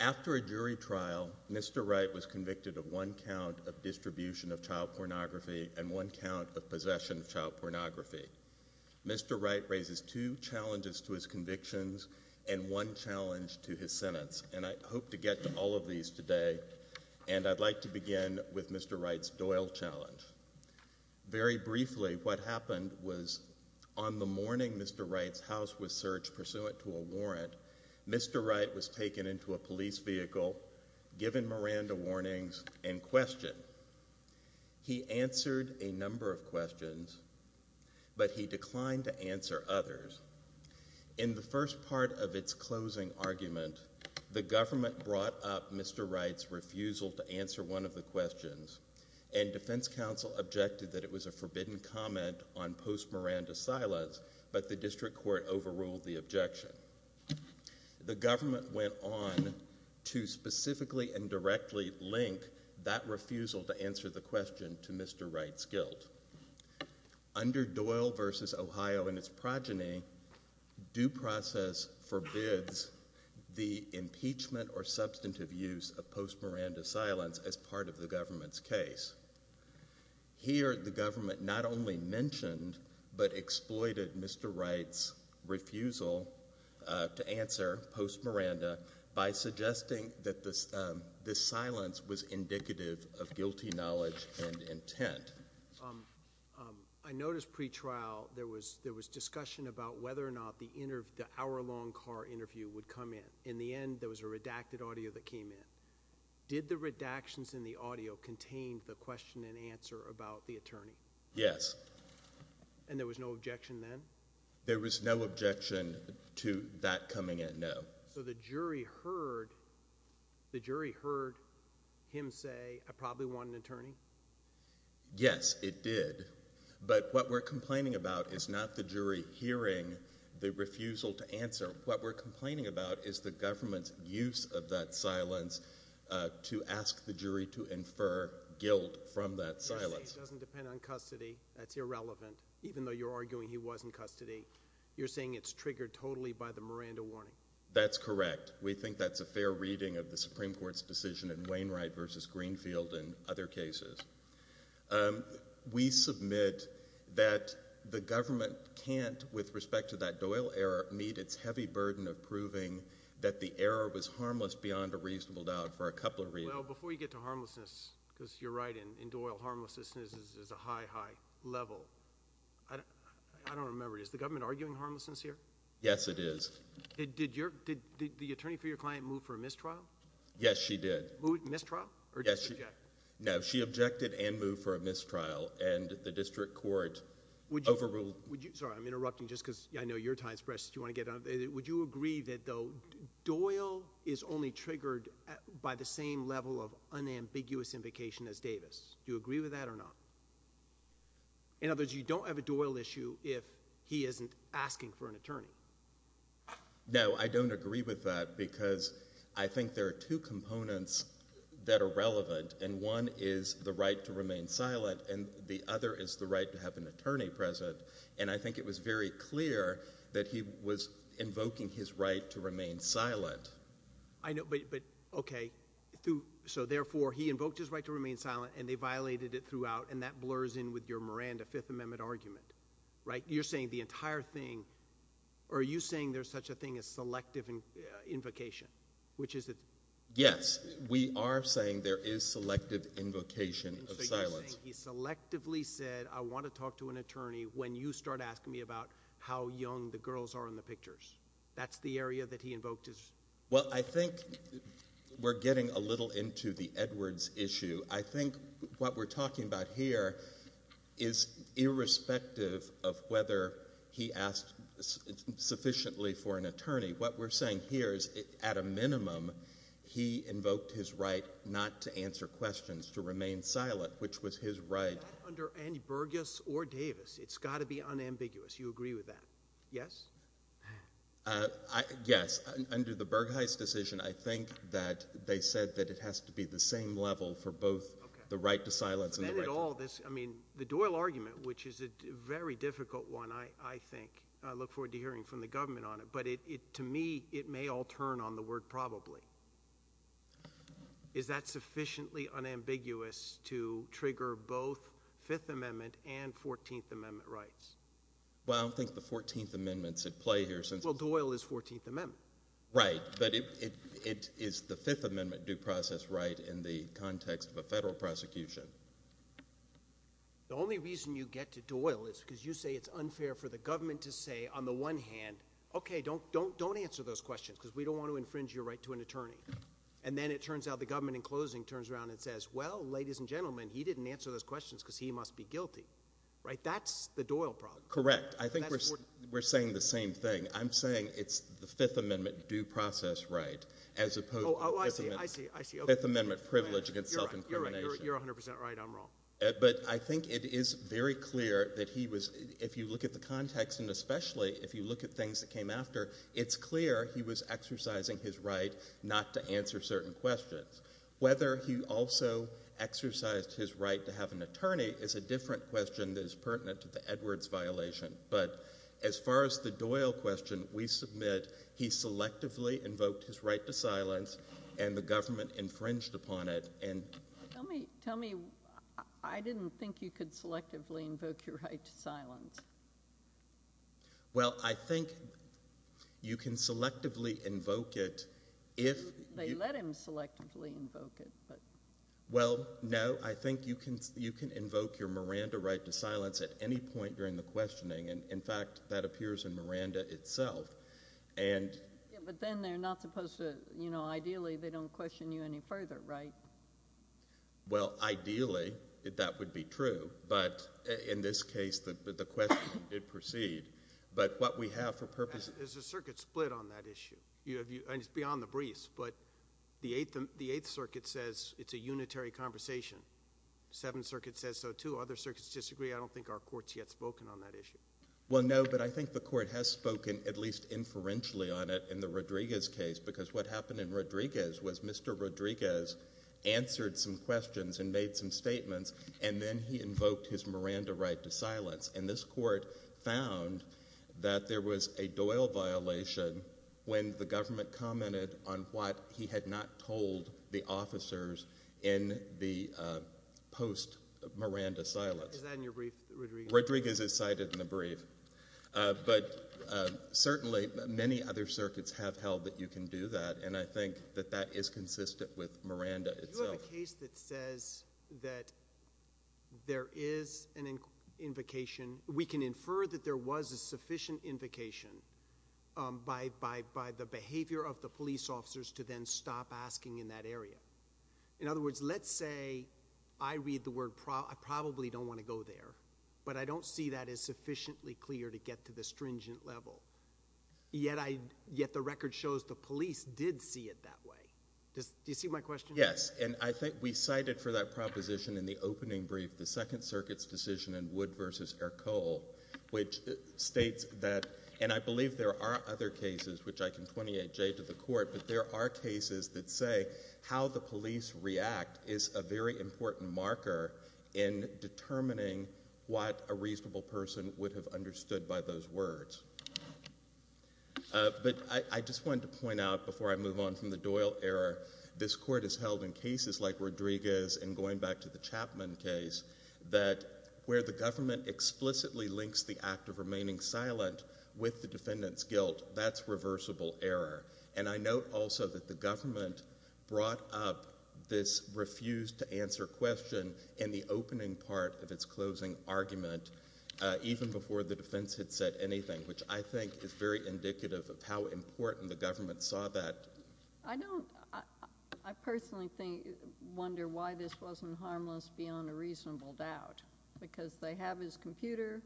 After a jury trial, Mr. Wright was convicted of one count of distribution of child pornography and one count of possession of child pornography. Mr. Wright raises two challenges to his convictions and one challenge to his sentence. I hope to get to all of these today and I'd like to begin with Mr. Wright's Doyle Challenge. Very briefly, what happened was on the morning Mr. Wright's house was searched pursuant to a warrant, Mr. Wright was taken into a police vehicle, given Miranda warnings, and questioned. He answered a number of questions, but he declined to answer others. In the first part of its closing argument, the government brought up Mr. Wright's refusal to answer one of the questions and defense counsel objected that it was a forbidden comment on post-Miranda silence, but the district court overruled the objection. The government went on to specifically and directly link that refusal to answer the question to Mr. Wright's guilt. Under Doyle v. Ohio and its progeny, due process forbids the impeachment or substantive use of post-Miranda silence as part of the government's case. Here the government not only mentioned, but exploited Mr. Wright's refusal to answer post-Miranda by suggesting that this silence was indicative of guilty knowledge and intent. I noticed pre-trial there was discussion about whether or not the hour-long car interview would come in. In the end, there was a redacted audio that came in. Did the redactions in the audio contain the question and answer about the attorney? Yes. And there was no objection then? There was no objection to that coming in, no. So the jury heard him say, I probably want an attorney? Yes, it did. But what we're complaining about is not the jury hearing the refusal to answer. What we're complaining about is the government's use of that silence to ask the jury to infer guilt from that silence. You're saying it doesn't depend on custody, that's irrelevant, even though you're arguing he was in custody. You're saying it's triggered totally by the Miranda warning? That's correct. We think that's a fair reading of the Supreme Court's decision in Wainwright v. Greenfield and other cases. We submit that the government can't, with respect to that Doyle error, meet its heavy burden of proving that the error was harmless beyond a reasonable doubt for a couple of reasons. Well, before you get to harmlessness, because you're right, in Doyle, harmlessness is a high, high level. I don't remember, is the government arguing harmlessness here? Yes, it is. Did the attorney for your client move for a mistrial? Yes, she did. Moved mistrial? Yes. Or did she object? No, she objected and moved for a mistrial, and the district court overruled... Would you, sorry, I'm interrupting just because I know your time is precious, do you want to get on? Would you agree that, though, Doyle is only triggered by the same level of unambiguous implication as Davis? Do you agree with that or not? In other words, you don't have a Doyle issue if he isn't asking for an attorney? No, I don't agree with that, because I think there are two components that are relevant, and one is the right to remain silent, and the other is the right to have an attorney present, and I think it was very clear that he was invoking his right to remain silent. I know, but, okay, so therefore, he invoked his right to remain silent, and they violated it throughout, and that blurs in with your Miranda Fifth Amendment argument, right? You're saying the entire thing, or are you saying there's such a thing as selective invocation, which is... Yes, we are saying there is selective invocation of silence. So you're saying he selectively said, I want to talk to an attorney when you start asking me about how young the girls are in the pictures. That's the area that he invoked his... Well, I think we're getting a little into the Edwards issue. I think what we're talking about here is irrespective of whether he asked sufficiently for an attorney. What we're saying here is, at a minimum, he invoked his right not to answer questions, to remain silent, which was his right... Not under any Burgess or Davis. It's got to be unambiguous. You agree with that, yes? Yes. Under the Burgheist decision, I think that they said that it has to be the same level for both the right to silence and the right... But then it all... I mean, the Doyle argument, which is a very difficult one, I think, and I look forward to hearing from the government on it, but to me, it may all turn on the word probably. Is that sufficiently unambiguous to trigger both Fifth Amendment and Fourteenth Amendment rights? Well, I don't think the Fourteenth Amendment should play here, since... Well, Doyle is Fourteenth Amendment. Right. But it is the Fifth Amendment due process right in the context of a federal prosecution. The only reason you get to Doyle is because you say it's unfair for the government to say, on the one hand, okay, don't answer those questions, because we don't want to infringe your right to an attorney. And then it turns out the government, in closing, turns around and says, well, ladies and gentlemen, he didn't answer those questions, because he must be guilty. Right? That's the Doyle problem. Correct. I think we're saying the same thing. I'm saying it's the Fifth Amendment due process right, as opposed to the Fifth Amendment privilege against self-incrimination. You're right. You're 100 percent right. I'm wrong. But I think it is very clear that he was... if you look at the context, and especially if you look at things that came after, it's clear he was exercising his right not to answer certain questions. Whether he also exercised his right to have an attorney is a different question that is pertinent to the Edwards violation. But as far as the Doyle question, we submit he selectively invoked his right to silence and the government infringed upon it, and... Tell me, I didn't think you could selectively invoke your right to silence. Well, I think you can selectively invoke it if... They let him selectively invoke it, but... Well, no, I think you can invoke your Miranda right to silence at any point during the questioning and, in fact, that appears in Miranda itself, and... Yeah, but then they're not supposed to... you know, ideally, they don't question you any further, right? Well, ideally, that would be true, but in this case, the question did proceed, but what we have for purposes... There's a circuit split on that issue, and it's beyond the briefs, but the Eighth Circuit says it's a unitary conversation. Seventh Circuit says so, too. Other circuits disagree. I don't think our Court's yet spoken on that issue. Well, no, but I think the Court has spoken, at least inferentially on it, in the Rodriguez case, because what happened in Rodriguez was Mr. Rodriguez answered some questions and made some statements, and then he invoked his Miranda right to silence, and this Court found that there was a Doyle violation when the government commented on what he had not told the officers in the post-Miranda silence. Is that in your brief, Rodriguez? Rodriguez is cited in the brief, but certainly, many other circuits have held that you can do that, and I think that that is consistent with Miranda itself. Do you have a case that says that there is an invocation... we can infer that there was a sufficient invocation by the behavior of the police officers to then stop asking in that area. In other words, let's say I read the word... I probably don't want to go there, but I don't see that as sufficiently clear to get to the stringent level, yet the record shows the police did see it that way. Do you see my question? Yes, and I think we cited for that proposition in the opening brief the Second Circuit's decision in Wood v. Ercole, which states that... and I believe there are other cases, which I can 28-J to the Court, but there are cases that say how the police react is a very important marker in determining what a reasonable person would have understood by those words. But I just wanted to point out, before I move on from the Doyle error, this Court has held in cases like Rodriguez and going back to the Chapman case, that where the government explicitly links the act of remaining silent with the defendant's guilt, that's reversible error. And I note also that the government brought up this refused to answer question in the opening part of its closing argument, even before the defense had said anything, which I think is very indicative of how important the government saw that. I don't... I personally wonder why this wasn't harmless beyond a reasonable doubt, because they have his computer,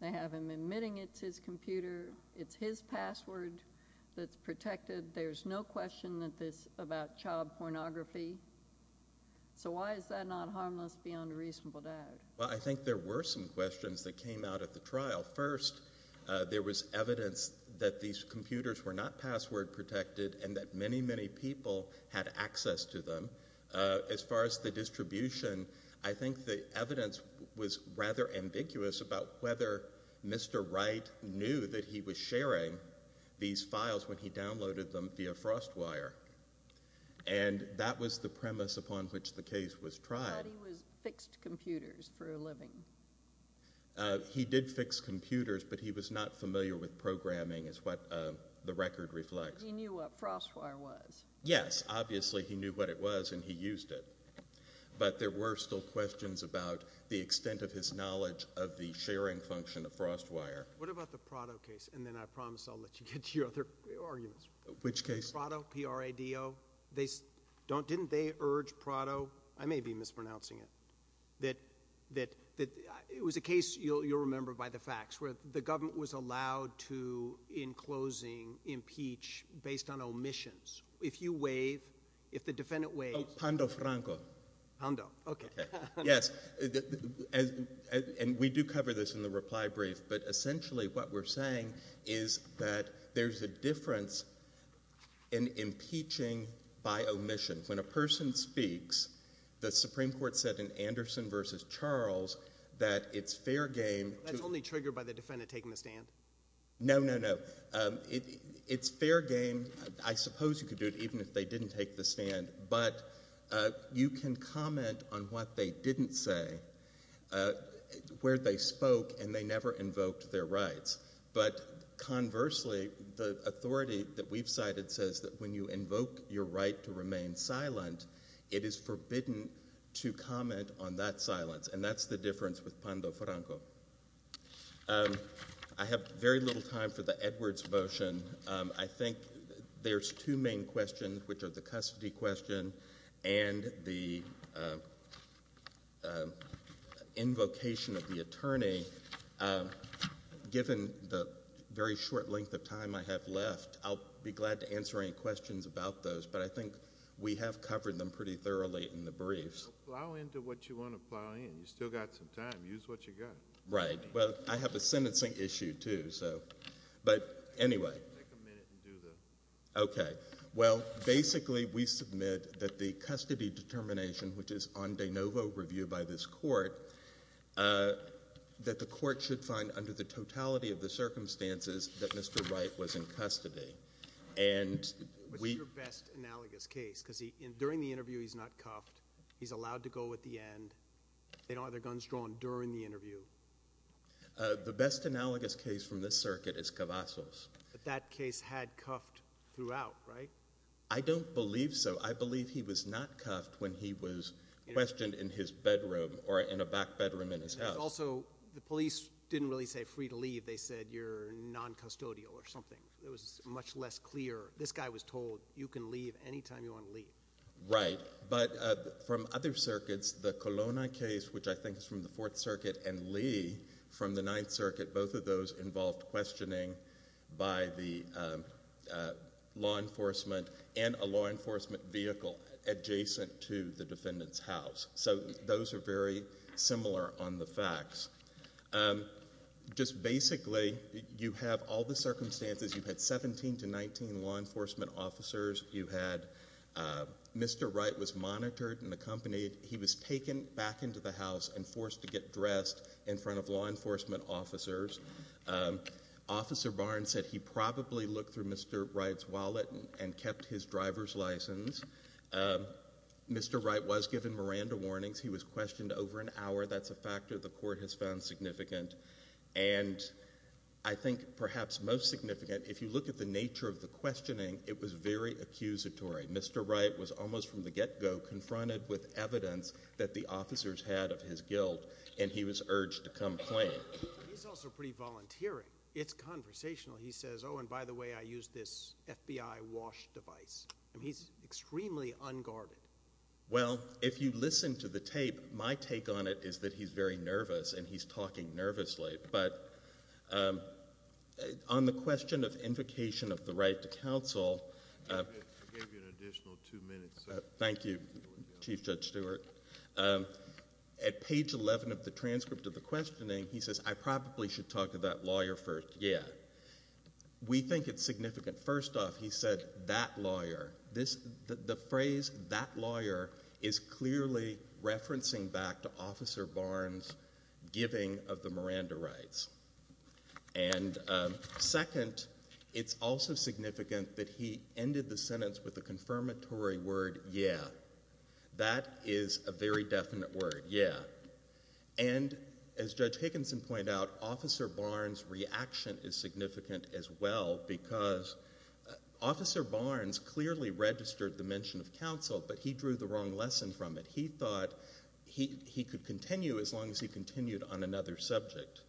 they have him admitting it's his computer, it's his password that's protected, there's no question that this... about child pornography. So why is that not harmless beyond a reasonable doubt? Well, I think there were some questions that came out of the trial. First, there was evidence that these computers were not password protected and that many, many people had access to them. As far as the distribution, I think the evidence was rather ambiguous about whether Mr. Wright knew that he was sharing these files when he downloaded them via FrostWire. And that was the premise upon which the case was tried. But he was... fixed computers for a living. He did fix computers, but he was not familiar with programming, is what the record reflects. But he knew what FrostWire was. Yes, obviously he knew what it was and he used it. But there were still questions about the extent of his knowledge of the sharing function of FrostWire. What about the Prado case? And then I promise I'll let you get to your other arguments. Which case? Prado, P-R-A-D-O. They... didn't they urge Prado... I may be mispronouncing it... that it was a case, you'll remember by the facts, where the government was allowed to, in closing, impeach based on omissions. If you waive... if the defendant waives... Oh, Pando Franco. Pando. Okay. Okay. Yes. And we do cover this in the reply brief, but essentially what we're saying is that there's a difference in impeaching by omission. When a person speaks, the Supreme Court said in Anderson v. Charles that it's fair game to... That's only triggered by the defendant taking the stand? No, no, no. It's fair game. I suppose you could do it even if they didn't take the stand, but you can comment on what they didn't say, where they spoke, and they never invoked their rights. But conversely, the authority that we've cited says that when you invoke your right to remain silent, it is forbidden to comment on that silence, and that's the difference with Pando Franco. I have very little time for the Edwards motion. I think there's two main questions, which are the custody question and the invocation of the attorney. Given the very short length of time I have left, I'll be glad to answer any questions about those, but I think we have covered them pretty thoroughly in the briefs. Plow into what you want to plow in. You've still got some time. Use what you've got. Right. Well, I have a sentencing issue, too, so... But anyway... Take a minute and do the... Okay. Well, basically, we submit that the custody determination, which is on de novo reviewed by this court, that the court should find under the totality of the circumstances that Mr. Wright was in custody, and we... What's your best analogous case? During the interview, he's not cuffed. He's allowed to go at the end. They don't have their guns drawn during the interview. The best analogous case from this circuit is Cavazos. That case had cuffed throughout, right? I don't believe so. I believe he was not cuffed when he was questioned in his bedroom or in a back bedroom in his house. And also, the police didn't really say free to leave. They said you're noncustodial or something. It was much less clear. This guy was told, you can leave any time you want to leave. Right. But from other circuits, the Colonna case, which I think is from the Fourth Circuit, and Lee from the Ninth Circuit, both of those involved questioning by the law enforcement and a law enforcement vehicle adjacent to the defendant's house. So those are very similar on the facts. Just basically, you have all the circumstances. You had 17 to 19 law enforcement officers. You had Mr. Wright was monitored and accompanied. He was taken back into the house and forced to get dressed in front of law enforcement officers. Officer Barnes said he probably looked through Mr. Wright's wallet and kept his driver's license. Mr. Wright was given Miranda warnings. He was questioned over an hour. That's a factor the court has found significant. And I think perhaps most significant, if you look at the nature of the questioning, it was very accusatory. Mr. Wright was almost from the get-go confronted with evidence that the officers had of his guilt and he was urged to come claim. He's also pretty volunteering. It's conversational. He says, oh, and by the way, I use this FBI wash device. He's extremely unguarded. Well, if you listen to the tape, my take on it is that he's very nervous and he's talking nervously. But on the question of invocation of the right to counsel, I gave you an additional two minutes. Thank you, Chief Judge Stewart. At page 11 of the transcript of the questioning, he says, I probably should talk to that lawyer first. Yeah. We think it's significant. First off, he said, that lawyer. The phrase, that lawyer, is clearly referencing back to Officer Barnes' giving of the Miranda rights. And second, it's also significant that he ended the sentence with a confirmatory word, yeah. That is a very definite word, yeah. And as Judge Higginson pointed out, Officer Barnes' reaction is significant as well because Officer Barnes clearly registered the mention of counsel, but he drew the wrong lesson from it. He thought he could continue as long as he continued on another subject.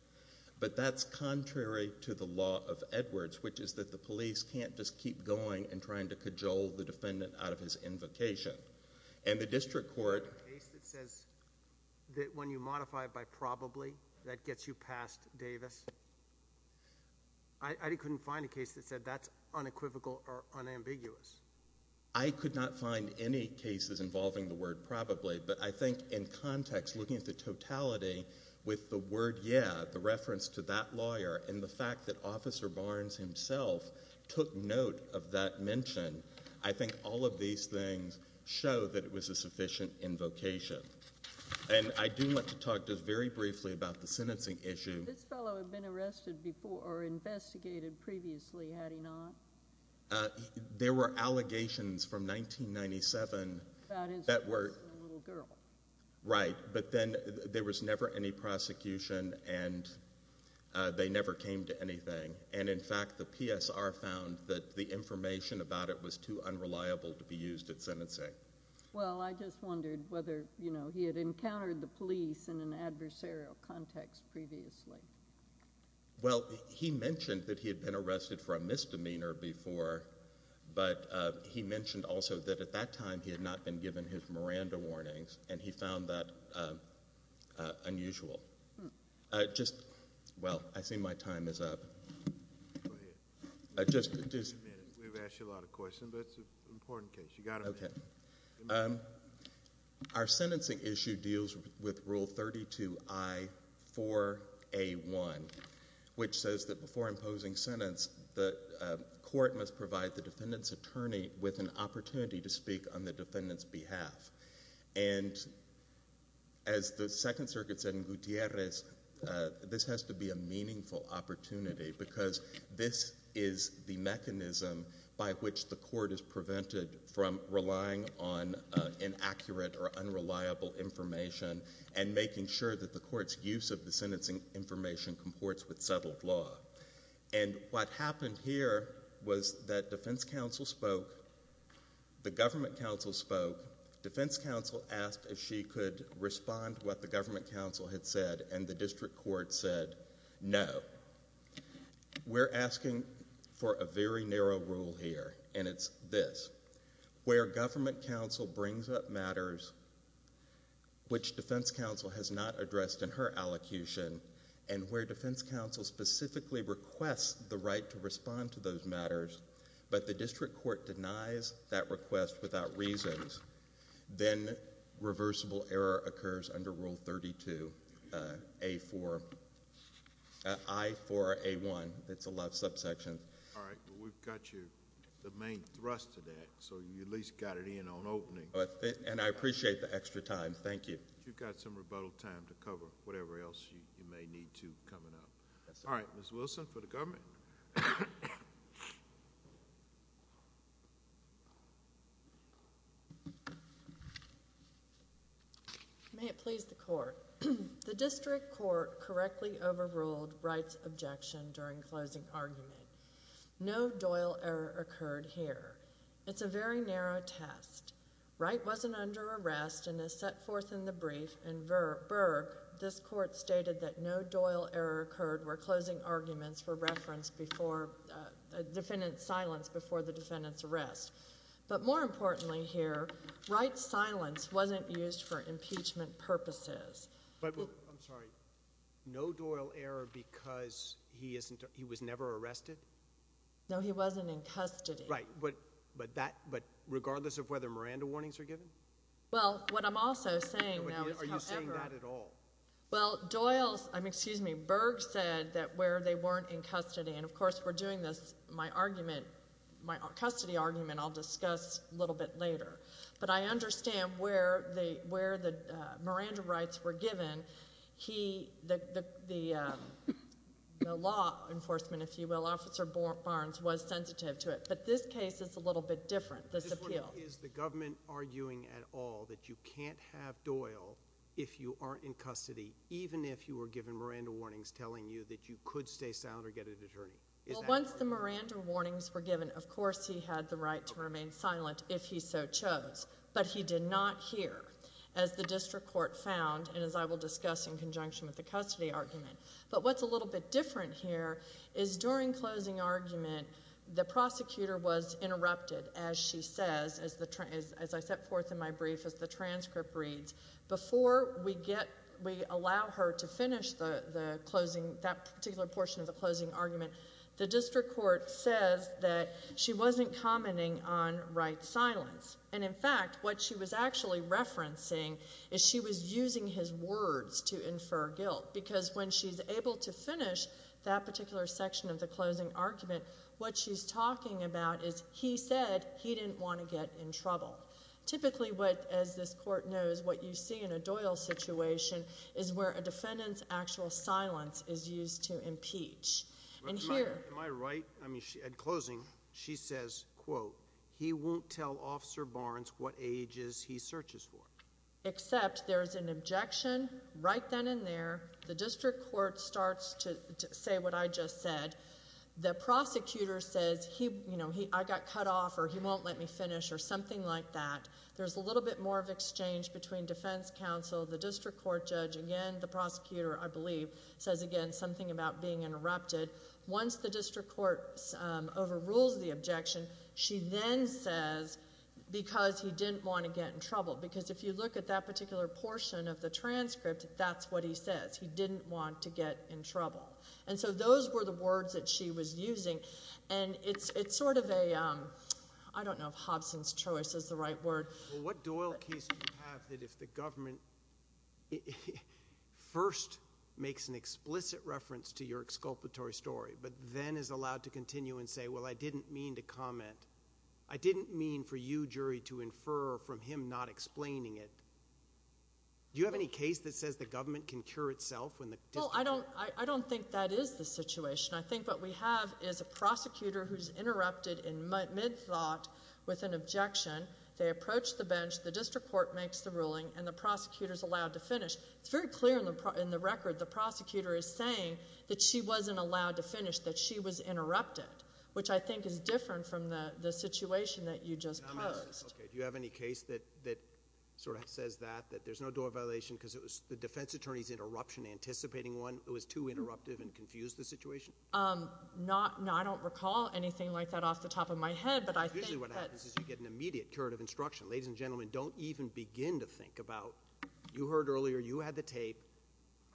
But that's contrary to the law of Edwards, which is that the police can't just keep going and trying to cajole the defendant out of his invocation. And the district court— There's a case that says that when you modify it by probably, that gets you past Davis. I couldn't find a case that said that's unequivocal or unambiguous. I could not find any cases involving the word probably, but I think in context, looking at the totality with the word, yeah, the reference to that lawyer and the fact that Officer Barnes himself took note of that mention, I think all of these things show that it was a sufficient invocation. And I do want to talk just very briefly about the sentencing issue. Did this fellow have been arrested before or investigated previously, had he not? There were allegations from 1997 that were— About his arresting a little girl. Right. But then there was never any prosecution, and they never came to anything. And in fact, the PSR found that the information about it was too unreliable to be used at sentencing. Well, I just wondered whether, you know, he had encountered the police in an adversarial context previously. Well, he mentioned that he had been arrested for a misdemeanor before, but he mentioned also that at that time, he had not been given his Miranda warnings, and he found that unusual. Just—well, I see my time is up. Go ahead. Just— We've asked you a lot of questions, but it's an important case, you've got to admit it. Thank you. Our sentencing issue deals with Rule 32I-4A1, which says that before imposing sentence, the court must provide the defendant's attorney with an opportunity to speak on the defendant's behalf. And as the Second Circuit said in Gutierrez, this has to be a meaningful opportunity because this is the mechanism by which the court is prevented from relying on inaccurate or unreliable information and making sure that the court's use of the sentencing information comports with settled law. And what happened here was that defense counsel spoke, the government counsel spoke, defense counsel asked if she could respond to what the government counsel had said, and the district court said no. We're asking for a very narrow rule here, and it's this. Where government counsel brings up matters which defense counsel has not addressed in her allocution, and where defense counsel specifically requests the right to respond to those matters, but the district court denies that request without reasons, then reversible error occurs under Rule 32I-4A1, that's the left subsection. All right. Well, we've got you the main thrust of that, so you at least got it in on opening. And I appreciate the extra time. Thank you. You've got some rebuttal time to cover whatever else you may need to coming up. All right. Ms. Wilson for the government. May it please the court. The district court correctly overruled Wright's objection during closing argument. No Doyle error occurred here. It's a very narrow test. Wright wasn't under arrest and is set forth in the brief, and Burke, this court stated that no Doyle error occurred where closing arguments were referenced before, defendant's silence before the defendant's arrest. But more importantly here, Wright's silence wasn't used for impeachment purposes. But, I'm sorry, no Doyle error because he wasn't, he was never arrested? No, he wasn't in custody. Right. But, but that, but regardless of whether Miranda warnings are given? Well, what I'm also saying, though, is however— Are you saying that at all? Well, Doyle's, I mean, excuse me, Burke said that where they weren't in custody, and of course we're doing this, my argument, my custody argument, I'll discuss a little bit later. But I understand where the, where the Miranda rights were given, he, the, the, the law enforcement, if you will, Officer Barnes was sensitive to it. But this case is a little bit different, this appeal. Is the government arguing at all that you can't have Doyle if you aren't in custody, even if you were given Miranda warnings telling you that you could stay silent or get an attorney? Is that— Well, once the Miranda warnings were given, of course he had the right to remain silent if he so chose. But he did not hear, as the district court found, and as I will discuss in conjunction with the custody argument. But what's a little bit different here is during closing argument, the prosecutor was as the, as I set forth in my brief, as the transcript reads, before we get, we allow her to finish the, the closing, that particular portion of the closing argument, the district court says that she wasn't commenting on Wright's silence. And in fact, what she was actually referencing is she was using his words to infer guilt. Because when she's able to finish that particular section of the closing argument, what she's talking about is he said he didn't want to get in trouble. Typically, what, as this court knows, what you see in a Doyle situation is where a defendant's actual silence is used to impeach. And here— Am I right? I mean, at closing, she says, quote, he won't tell Officer Barnes what ages he searches for. Except there's an objection right then and there. The district court starts to say what I just said. The prosecutor says he, you know, he, I got cut off, or he won't let me finish, or something like that. There's a little bit more of exchange between defense counsel, the district court judge, again, the prosecutor, I believe, says again something about being interrupted. Once the district court overrules the objection, she then says, because he didn't want to get in trouble. Because if you look at that particular portion of the transcript, that's what he says. He didn't want to get in trouble. And so those were the words that she was using. And it's sort of a—I don't know if Hobson's choice is the right word. What Doyle case would you have that if the government first makes an explicit reference to your exculpatory story, but then is allowed to continue and say, well, I didn't mean to comment. I didn't mean for you, jury, to infer from him not explaining it. Do you have any case that says the government can cure itself when the district— Well, I don't think that is the situation. I think what we have is a prosecutor who's interrupted in mid-thought with an objection. They approach the bench. The district court makes the ruling, and the prosecutor's allowed to finish. It's very clear in the record. The prosecutor is saying that she wasn't allowed to finish, that she was interrupted, which I think is different from the situation that you just posed. Okay. Do you have any case that sort of says that, that there's no Doyle violation because the defense attorney's interruption, anticipating one, was too interruptive and confused the situation? No. I don't recall anything like that off the top of my head, but I think that— Usually what happens is you get an immediate curative instruction. Ladies and gentlemen, don't even begin to think about—you heard earlier, you had the tape.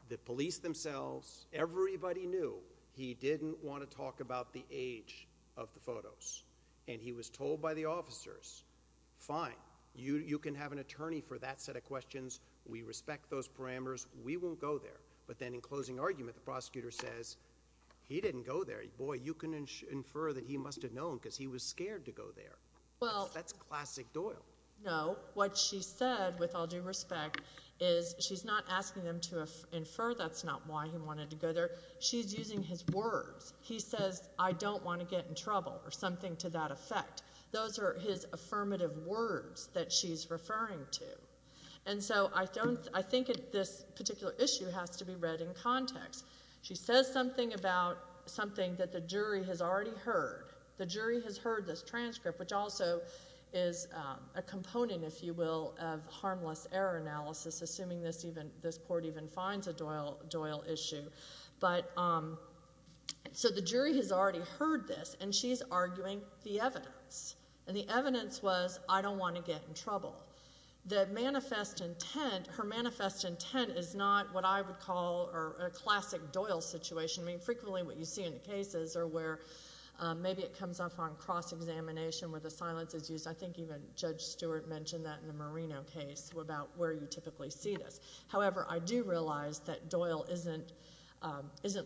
The police themselves, everybody knew he didn't want to talk about the age of the photos, and he was told by the officers, fine, you can have an attorney for that set of questions. We respect those parameters. We won't go there. But then in closing argument, the prosecutor says, he didn't go there. Boy, you can infer that he must have known because he was scared to go there. Well— That's classic Doyle. No. What she said, with all due respect, is she's not asking them to infer that's not why he wanted to go there. She's using his words. He says, I don't want to get in trouble, or something to that effect. Those are his affirmative words that she's referring to. And so I think this particular issue has to be read in context. She says something about something that the jury has already heard. The jury has heard this transcript, which also is a component, if you will, of harmless error analysis, assuming this court even finds a Doyle issue. So the jury has already heard this, and she's arguing the evidence. And the evidence was, I don't want to get in trouble. That manifest intent—her manifest intent is not what I would call a classic Doyle situation. I mean, frequently what you see in the cases are where maybe it comes up on cross-examination where the silence is used. I think even Judge Stewart mentioned that in the Marino case about where you typically see this. However, I do realize that Doyle isn't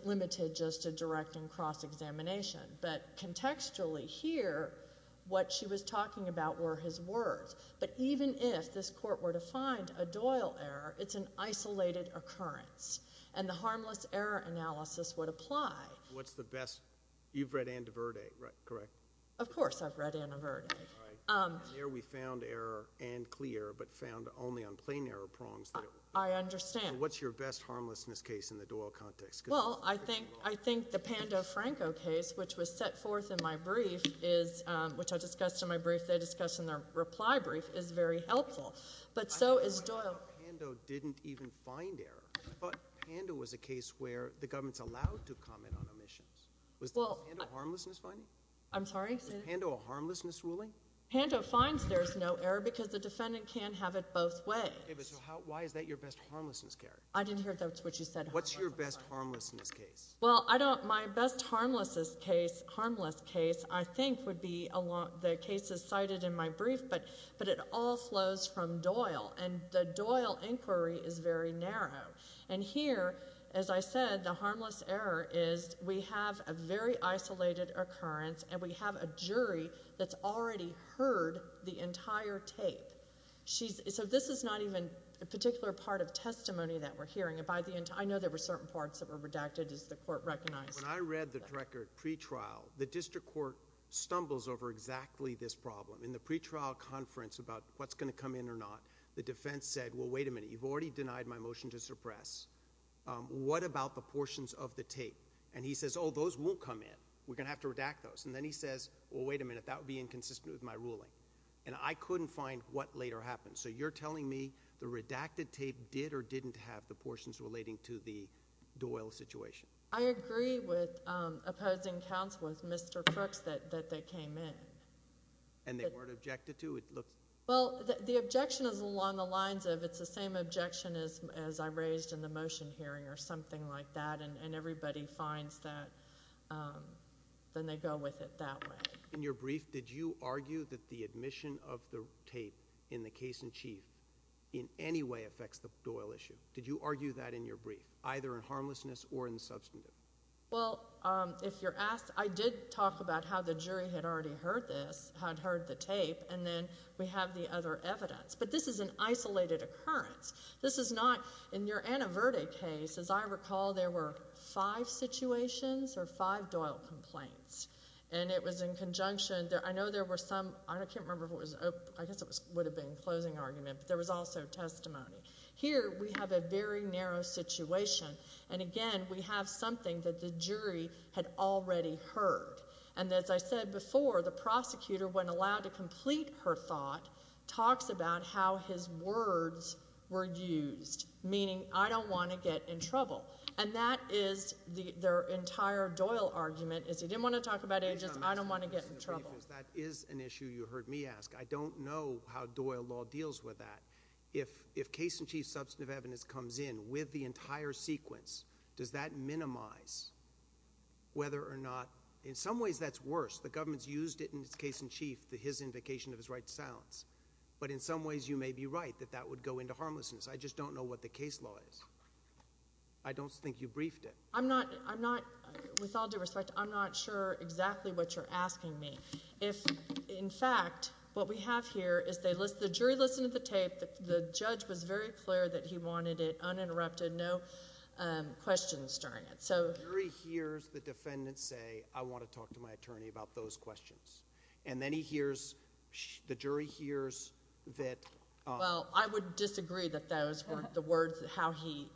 limited just to direct and cross-examination. But contextually here, what she was talking about were his words. But even if this court were to find a Doyle error, it's an isolated occurrence. And the harmless error analysis would apply. What's the best—you've read Ann DeVerte, correct? Of course I've read Ann DeVerte. All right. There we found error and clear, but found only on plain error prongs. I understand. What's your best harmlessness case in the Doyle context? Well, I think the Pando-Franco case, which was set forth in my brief, is—which I discussed in my brief, they discussed in their reply brief—is very helpful. But so is Doyle. I thought Pando didn't even find error. I thought Pando was a case where the government's allowed to comment on omissions. Was Pando a harmlessness finding? I'm sorry? Is Pando a harmlessness ruling? Pando finds there's no error because the defendant can't have it both ways. Okay, but so how—why is that your best harmlessness case? I didn't hear if that's what you said. What's your best harmlessness case? Well, I don't—my best harmlessness case—harmless case, I think, would be the cases cited in my brief, but it all flows from Doyle. And the Doyle inquiry is very narrow. And here, as I said, the harmless error is we have a very isolated occurrence, and we have a jury that's already heard the entire tape. So this is not even a particular part of testimony that we're hearing. And by the end—I know there were certain parts that were redacted, as the Court recognized. When I read the record pre-trial, the district court stumbles over exactly this problem. In the pre-trial conference about what's going to come in or not, the defense said, well, wait a minute, you've already denied my motion to suppress. What about the portions of the tape? And he says, oh, those won't come in. We're going to have to redact those. And then he says, well, wait a minute, that would be inconsistent with my ruling. And I couldn't find what later happened. So you're telling me the redacted tape did or didn't have the portions relating to the Doyle situation? I agree with opposing counsel, with Mr. Crooks, that they came in. And they weren't objected to? It looks— Well, the objection is along the lines of it's the same objection as I raised in the motion hearing or something like that, and everybody finds that—then they go with it that way. In your brief, did you argue that the admission of the tape in the case-in-chief in any way affects the Doyle issue? Did you argue that in your brief, either in harmlessness or in substantive? Well, if you're asked, I did talk about how the jury had already heard this, had heard the tape, and then we have the other evidence. But this is an isolated occurrence. This is not—in your Anna Verde case, as I recall, there were five situations or five Doyle complaints. And it was in conjunction—I know there were some—I can't remember if it was—I guess it would have been a closing argument, but there was also testimony. Here we have a very narrow situation, and again, we have something that the jury had already heard. And as I said before, the prosecutor, when allowed to complete her thought, talks about how his words were used, meaning, I don't want to get in trouble. And that is their entire Doyle argument, is he didn't want to talk about agents, I don't want to get in trouble. That is an issue you heard me ask. I don't know how Doyle law deals with that. If case-in-chief substantive evidence comes in with the entire sequence, does that minimize whether or not—in some ways, that's worse. The government's used it in its case-in-chief, the his invocation of his right to silence. But in some ways, you may be right, that that would go into harmlessness. I just don't know what the case law is. I don't think you briefed it. I'm not, with all due respect, I'm not sure exactly what you're asking me. If, in fact, what we have here is the jury listened to the tape, the judge was very clear that he wanted it uninterrupted, no questions during it. So— The jury hears the defendant say, I want to talk to my attorney about those questions. And then he hears, the jury hears that— Well, I would disagree that those were the words, how he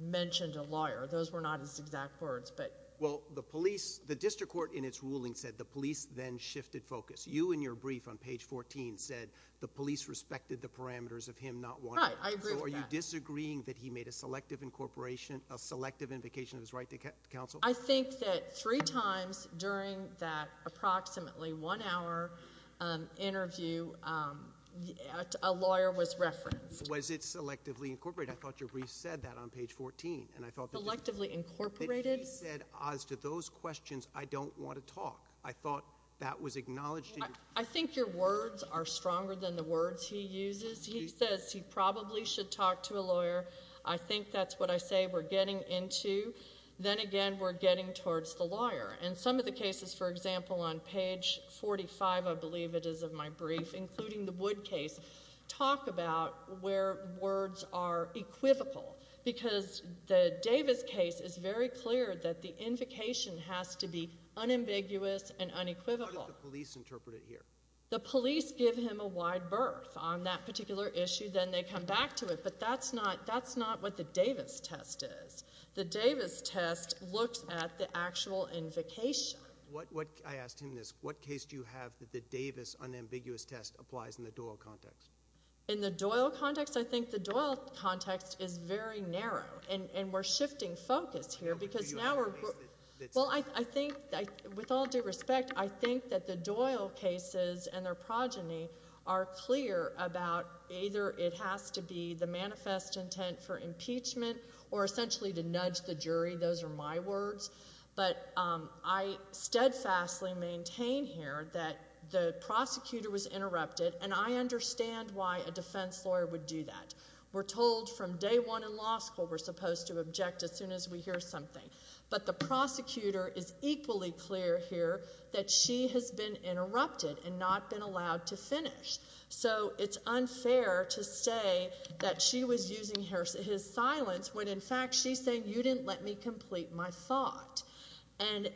mentioned a lawyer. Those were not his exact words, but— Well, the police, the district court in its ruling said the police then shifted focus. You in your brief on page 14 said the police respected the parameters of him not wanting— Right, I agree with that. So are you disagreeing that he made a selective incorporation, a selective invocation of his right to counsel? I think that three times during that approximately one hour interview, a lawyer was referenced. Was it selectively incorporated? I thought your brief said that on page 14. And I thought that you— Selectively incorporated? That he said, as to those questions, I don't want to talk. I thought that was acknowledged in your— I think your words are stronger than the words he uses. He says he probably should talk to a lawyer. I think that's what I say we're getting into. Then again, we're getting towards the lawyer. And some of the cases, for example, on page 45, I believe it is of my brief, including the Wood case, talk about where words are equivocal, because the Davis case is very clear that the invocation has to be unambiguous and unequivocal. How did the police interpret it here? The police give him a wide berth on that particular issue, then they come back to it. But that's not what the Davis test is. The Davis test looks at the actual invocation. I asked him this. What case do you have that the Davis unambiguous test applies in the Doyle context? In the Doyle context? I think the Doyle context is very narrow, and we're shifting focus here because now we're— Do you have a case that's— Well, I think, with all due respect, I think that the Doyle cases and their progeny are clear about either it has to be the manifest intent for impeachment or essentially to nudge the jury. Those are my words. But I steadfastly maintain here that the prosecutor was interrupted, and I understand why a defense lawyer would do that. We're told from day one in law school we're supposed to object as soon as we hear something. But the prosecutor is equally clear here that she has been interrupted and not been allowed to finish. So it's unfair to say that she was using his silence when, in fact, she's saying, you didn't let me complete my thought. And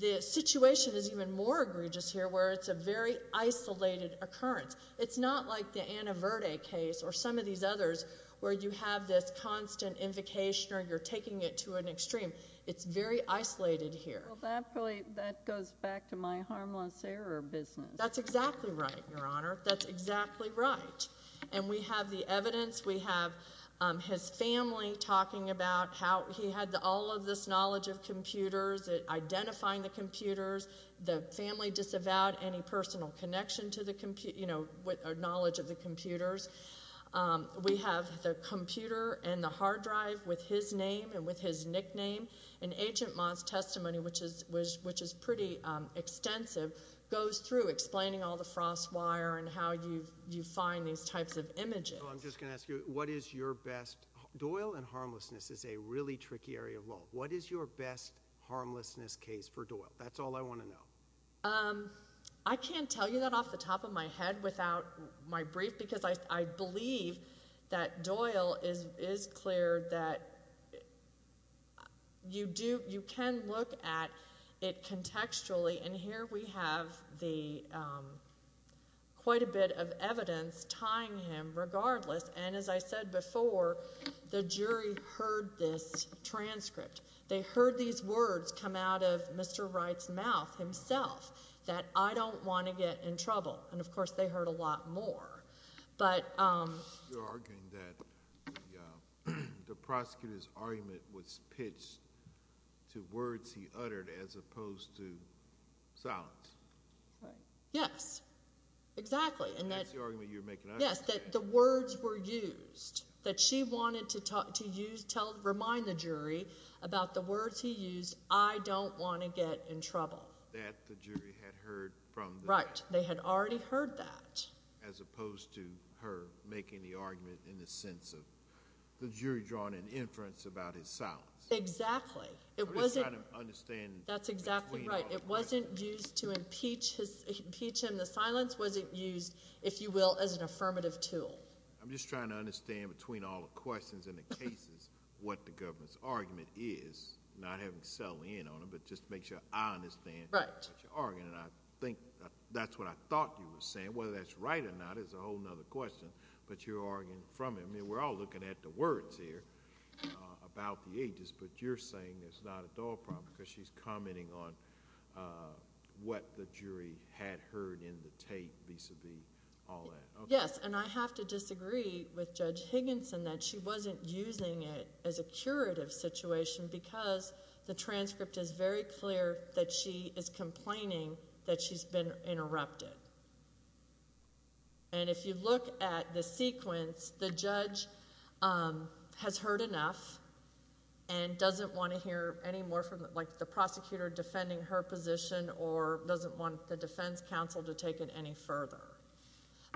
the situation is even more egregious here where it's a very isolated occurrence. It's not like the Anna Verde case or some of these others where you have this constant invocation or you're taking it to an extreme. It's very isolated here. Well, that really—that goes back to my harmless error business. That's exactly right, Your Honor. That's exactly right. And we have the evidence. We have his family talking about how he had all of this knowledge of computers, identifying the computers, the family disavowed any personal connection to the compu—you know, knowledge of the computers. We have the computer and the hard drive with his name and with his nickname. And Agent Mott's testimony, which is pretty extensive, goes through explaining all the frost wire and how you find these types of images. So I'm just going to ask you, what is your best—Doyle and harmlessness is a really tricky area of law. What is your best harmlessness case for Doyle? That's all I want to know. I can't tell you that off the top of my head without my brief because I believe that Doyle is—is clear that you do—you can look at it contextually. And here we have the—quite a bit of evidence tying him regardless. And as I said before, the jury heard this transcript. They heard these words come out of Mr. Wright's mouth himself that, I don't want to get in trouble. And, of course, they heard a lot more. But— You're arguing that the prosecutor's argument was pitched to words he uttered as opposed to silence. Right. Yes. Exactly. And that— That's the argument you're making. Yes. That the words were used. That she wanted to use—remind the jury about the words he used, I don't want to get in trouble. That the jury had heard from the— Right. They had already heard that. As opposed to her making the argument in the sense of the jury drawing an inference about his silence. It wasn't— I'm just trying to understand— That's exactly right. It wasn't used to impeach his—impeach him. The silence wasn't used, if you will, as an affirmative tool. I'm just trying to understand between all the questions and the cases what the government's argument is, not having settled in on it, but just to make sure I understand what you're arguing. Right. And I think that's what I thought you were saying, whether that's right or not is a whole other question. But you're arguing from it. I mean, we're all looking at the words here about the ages, but you're saying it's not a dog problem because she's commenting on what the jury had heard in the tape, vis-a-vis all that. Yes. And I have to disagree with Judge Higginson that she wasn't using it as a curative situation because the transcript is very clear that she is complaining that she's been interrupted. And if you look at the sequence, the judge has heard enough and doesn't want to hear any more from—like the prosecutor defending her position or doesn't want the defense counsel to take it any further.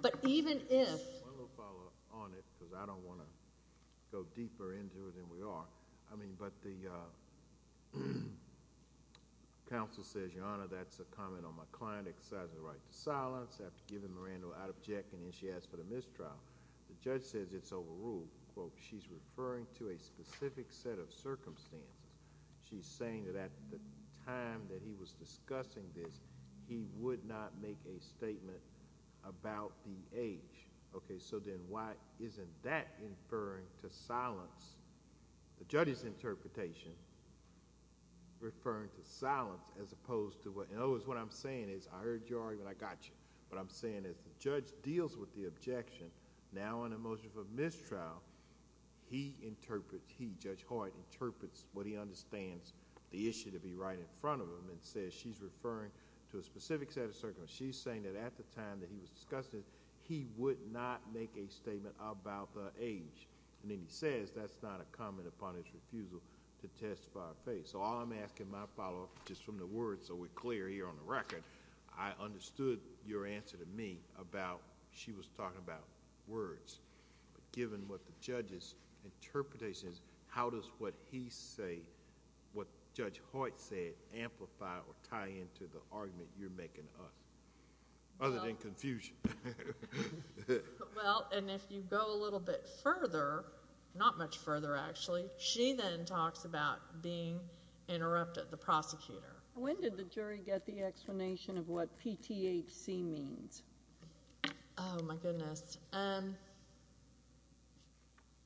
But even if— One little follow-up on it because I don't want to go deeper into it than we are. I mean, but the counsel says, Your Honor, that's a comment on my client exercising the right to silence. I have to give him a random out-of-check, and then she asks for the mistrial. The judge says it's overruled. She's referring to a specific set of circumstances. She's saying that at the time that he was discussing this, he would not make a statement about the age. Okay, so then why isn't that inferring to silence? The judge's interpretation referring to silence as opposed to what—and always what I'm saying is, I heard you already, but I got you. What I'm saying is the judge deals with the objection. Now, in the motion for mistrial, he interprets—he, Judge Hoyt, interprets what he understands the issue to be right in front of him and says she's referring to a specific set of circumstances. She's saying that at the time that he was discussing this, he would not make a statement about the age. Then he says that's not a comment upon his refusal to testify of faith. All I'm asking my follow-up, just from the words so we're clear here on the record, I understood your answer to me about she was talking about words. Given what the judge's interpretation is, how does what he say, what Judge Hoyt said, amplify or tie into the argument you're making to us, other than confusion? Well, and if you go a little bit further, not much further actually, she then talks about being interrupted, the prosecutor. When did the jury get the explanation of what PTHC means? Oh, my goodness.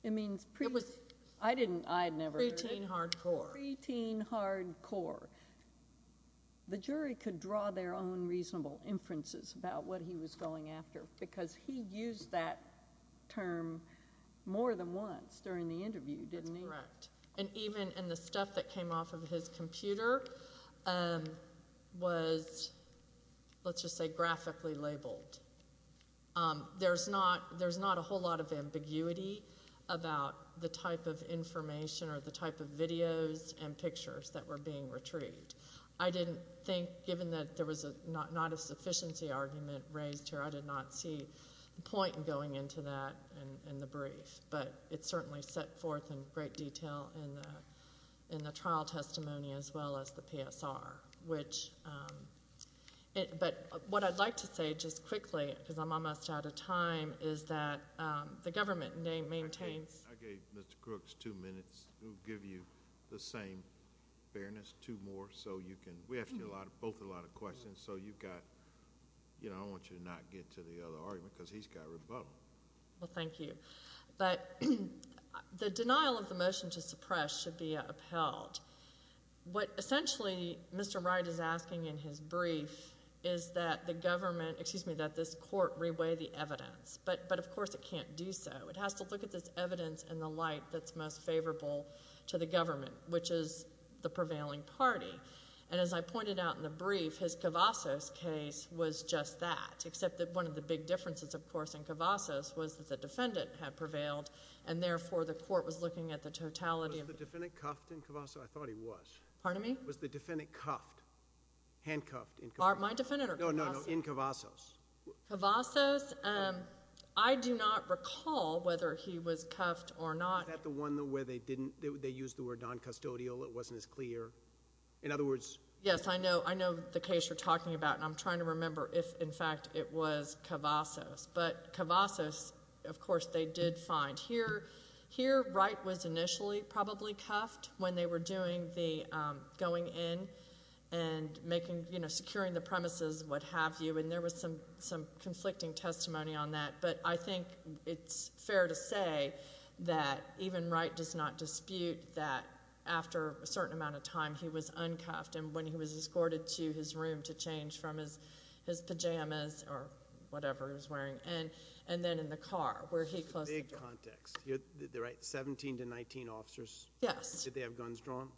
It means preteen— It was— I didn't—I had never heard of it. Preteen hardcore. Preteen hardcore. The jury could draw their own reasonable inferences about what he was going after because he used that term more than once during the interview, didn't he? That's correct. And even in the stuff that came off of his computer was, let's just say, graphically labeled. There's not a whole lot of ambiguity about the type of information or the type of videos and pictures that were being retrieved. I didn't think, given that there was not a sufficiency argument raised here, I did not see the point in going into that in the brief, but it certainly set forth in great detail in the trial testimony as well as the PSR, which—but what I'd like to say just quickly, because I'm almost out of time, is that the government maintains— I gave Mr. Crooks two minutes. We'll give you the same fairness, two more, so you can—we asked you both a lot of questions, so you've got—you know, I want you to not get to the other argument because he's got rebuttal. Well, thank you. But the denial of the motion to suppress should be upheld. What essentially Mr. Wright is asking in his brief is that the government—excuse me, that this court reweigh the evidence, but of course it can't do so. It has to look at this evidence in the light that's most favorable to the government, which is the prevailing party. And as I pointed out in the brief, his Cavazos case was just that, except that one of the big differences, of course, in Cavazos was that the defendant had prevailed, and therefore the court was looking at the totality of— Was the defendant cuffed in Cavazos? I thought he was. Pardon me? Was the defendant cuffed, handcuffed in Cavazos? My defendant or Cavazos? No, no, no, in Cavazos. Cavazos, I do not recall whether he was cuffed or not. Is that the one where they didn't—they used the word noncustodial, it wasn't as clear? In other words— Yes, I know, I know the case you're talking about, and I'm trying to remember if, in fact, it was Cavazos. But Cavazos, of course, they did find. Here, Wright was initially probably cuffed when they were doing the going in and making, you know, securing the premises, what have you, and there was some conflicting testimony on that. But I think it's fair to say that even Wright does not dispute that after a certain amount of time, he was uncuffed, and when he was escorted to his room to change from his pajamas or whatever he was wearing, and then in the car where he closed the door. This is a big context. You're right, 17 to 19 officers? Yes. Did they have guns drawn?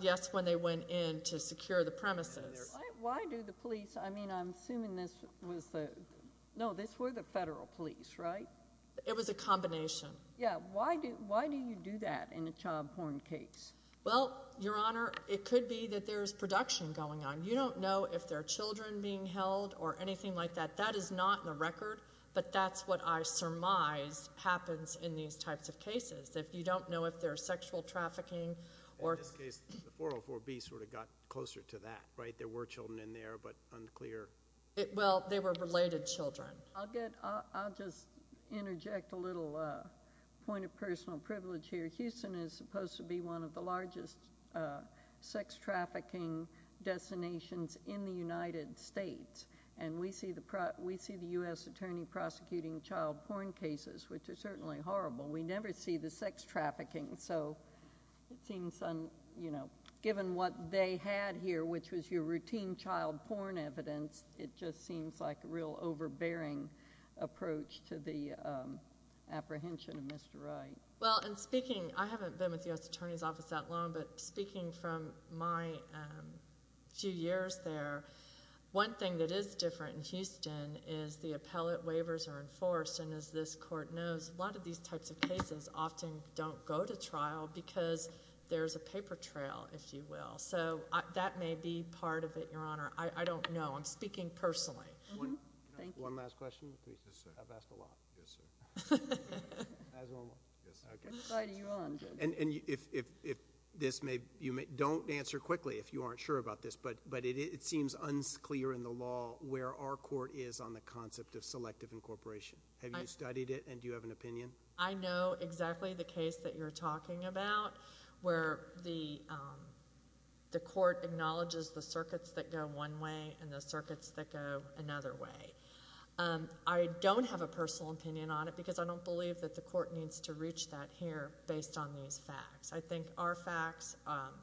Yes, when they went in to secure the premises. Why do the police—I mean, I'm assuming this was the—no, this were the federal police, right? It was a combination. Yeah, why do you do that in a child porn case? Well, Your Honor, it could be that there's production going on. You don't know if there are children being held or anything like that. That is not in the record, but that's what I surmise happens in these types of cases. You don't know if there's sexual trafficking or— In this case, the 404B sort of got closer to that, right? There were children in there, but unclear— Well, they were related children. I'll just interject a little point of personal privilege here. Houston is supposed to be one of the largest sex trafficking destinations in the United States, and we see the U.S. Attorney prosecuting child porn cases, which are certainly horrible. We never see the sex trafficking, so it seems, you know, given what they had here, which was your routine child porn evidence, it just seems like a real overbearing approach to the apprehension of Mr. Wright. Well, and speaking—I haven't been with the U.S. Attorney's Office that long, but speaking from my few years there, one thing that is different in Houston is the appellate cases often don't go to trial because there's a paper trail, if you will. So that may be part of it, Your Honor. I don't know. I'm speaking personally. Thank you. One last question, please. Yes, sir. I've asked a lot. Yes, sir. Can I ask one more? Yes, sir. I'm sorry to you all. I'm good. Don't answer quickly if you aren't sure about this, but it seems unclear in the law where our court is on the concept of selective incorporation. Have you studied it, and do you have an opinion? I know exactly the case that you're talking about where the court acknowledges the circuits that go one way and the circuits that go another way. I don't have a personal opinion on it because I don't believe that the court needs to reach that here based on these facts. I think our facts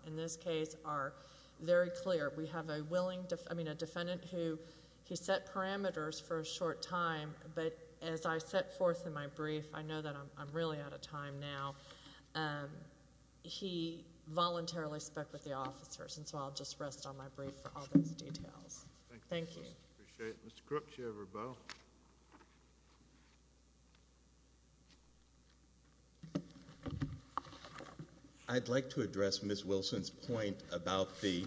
in this case are very clear. We have a willing—I mean, a defendant who set parameters for a short time, but as I set forth in my brief—I know that I'm really out of time now—he voluntarily spoke with the officers, and so I'll just rest on my brief for all those details. Thank you, Ms. Wilson. Appreciate it. Mr. Crook, do you have a rebuttal? I'd like to address Ms. Wilson's point about the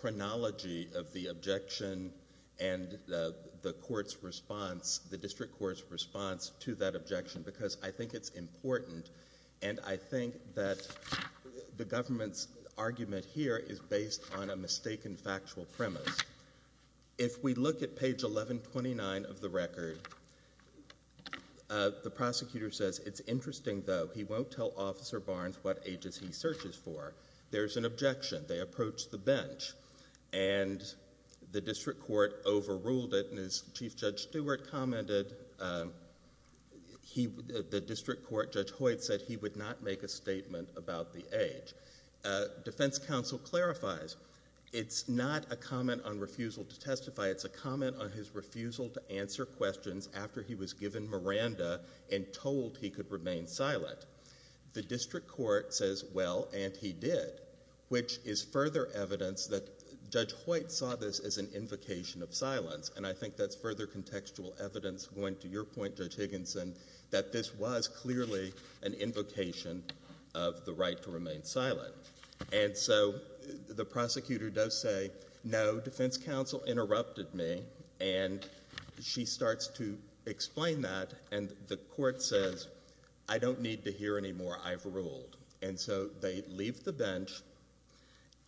chronology of the objection and the court's response—the district court's response to that objection because I think it's important, and I think that the government's argument here is based on a mistaken factual premise. If we look at page 1129 of the record, the prosecutor says, It's interesting, though. He won't tell Officer Barnes what ages he searches for. There's an objection. They approach the bench, and the district court overruled it, and as Chief Judge Stewart commented, the district court, Judge Hoyt, said he would not make a statement about the age. Defense counsel clarifies, It's not a comment on refusal to testify. It's a comment on his refusal to answer questions after he was given Miranda and told he could remain silent. The district court says, Well, and he did, which is further evidence that Judge Hoyt saw this as an invocation of silence, and I think that's further contextual evidence going to your point, Judge Higginson, that this was clearly an invocation of the right to remain silent. And so the prosecutor does say, No, defense counsel interrupted me, and she starts to explain that, and the court says, I don't need to hear anymore. I've ruled. And so they leave the bench,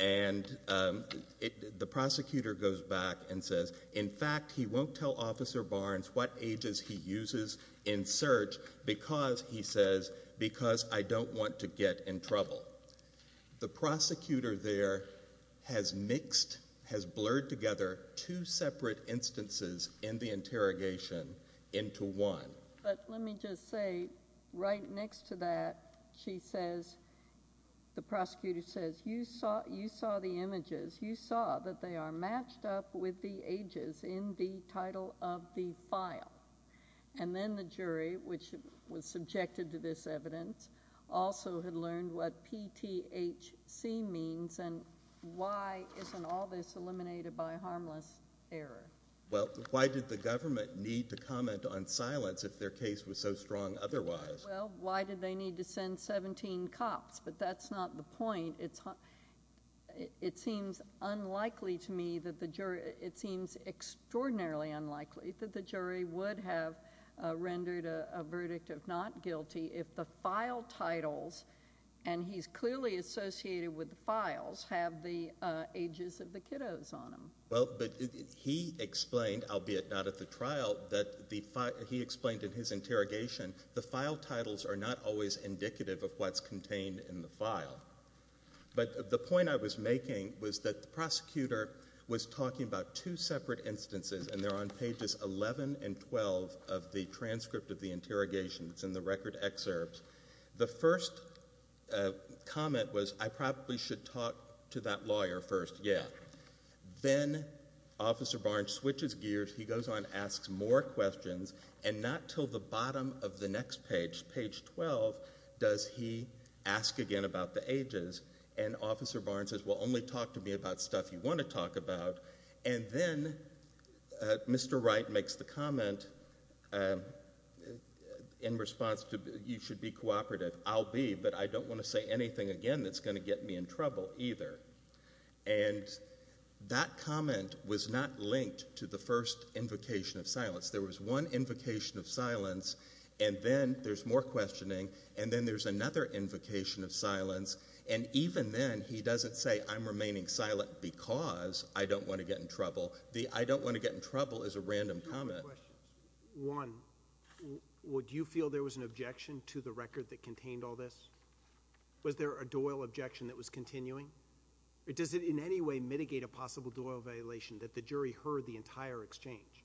and the prosecutor goes back and says, In fact, he won't tell Officer Barnes what ages he uses in search because, he says, Because I don't want to get in trouble. The prosecutor there has mixed, has blurred together two separate instances in the interrogation into one. But let me just say, right next to that, she says, The prosecutor says, You saw the images. You saw that they are matched up with the ages in the title of the file. And then the jury, which was subjected to this evidence, also had learned what PTHC means, and why isn't all this eliminated by harmless error? Well, why did the government need to comment on silence if their case was so strong otherwise? Well, why did they need to send 17 cops? But that's not the point. It seems unlikely to me that the jury, it seems extraordinarily unlikely that the jury would have rendered a verdict of not guilty if the file titles, and he's clearly associated with the files, have the ages of the kiddos on them. Well, but he explained, albeit not at the trial, that he explained in his interrogation, the file titles are not always indicative of what's contained in the file. But the point I was making was that the prosecutor was talking about two separate instances, and they're on pages 11 and 12 of the transcript of the interrogations in the record excerpts. The first comment was, I probably should talk to that lawyer first. Yeah. Then Officer Barnes switches gears. He goes on, asks more questions, and not till the bottom of the next page, page 12, does he ask again about the ages. And Officer Barnes says, well, only talk to me about stuff you want to talk about. And then Mr. Wright makes the comment in response to, you should be cooperative. I'll be, but I don't want to say anything again that's going to get me in trouble either. And that comment was not linked to the first invocation of silence. There was one invocation of silence, and then there's more questioning, and then there's another invocation of silence, and even then he doesn't say, I'm remaining silent because I don't want to get in trouble. The I don't want to get in trouble is a random comment. Two questions. One, would you feel there was an objection to the record that contained all this? Was there a Doyle objection that was continuing? Does it in any way mitigate a possible Doyle violation that the jury heard the entire exchange?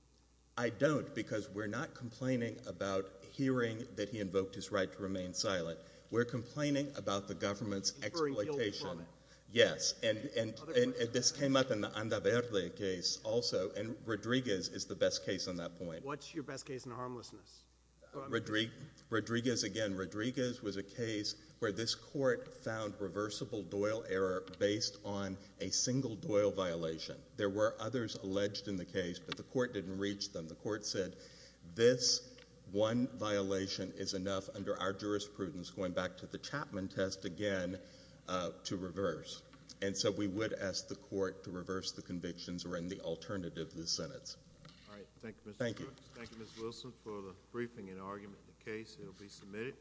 I don't, because we're not complaining about hearing that he invoked his right to remain silent. We're complaining about the government's exploitation. Yes, and this came up in the Andaverde case also, and Rodriguez is the best case on that point. What's your best case in harmlessness? Rodriguez, again, Rodriguez was a case where this court found reversible Doyle error based on a single Doyle violation. There were others alleged in the case, but the court didn't reach them. The court said this one violation is enough under our jurisprudence going back to the Chapman test again to reverse. And so we would ask the court to reverse the convictions or in the alternative of the sentence. All right, thank you, Mr. Brooks. Thank you. Thank you, Ms. Wilson, for the briefing and argument in the case. It will be submitted.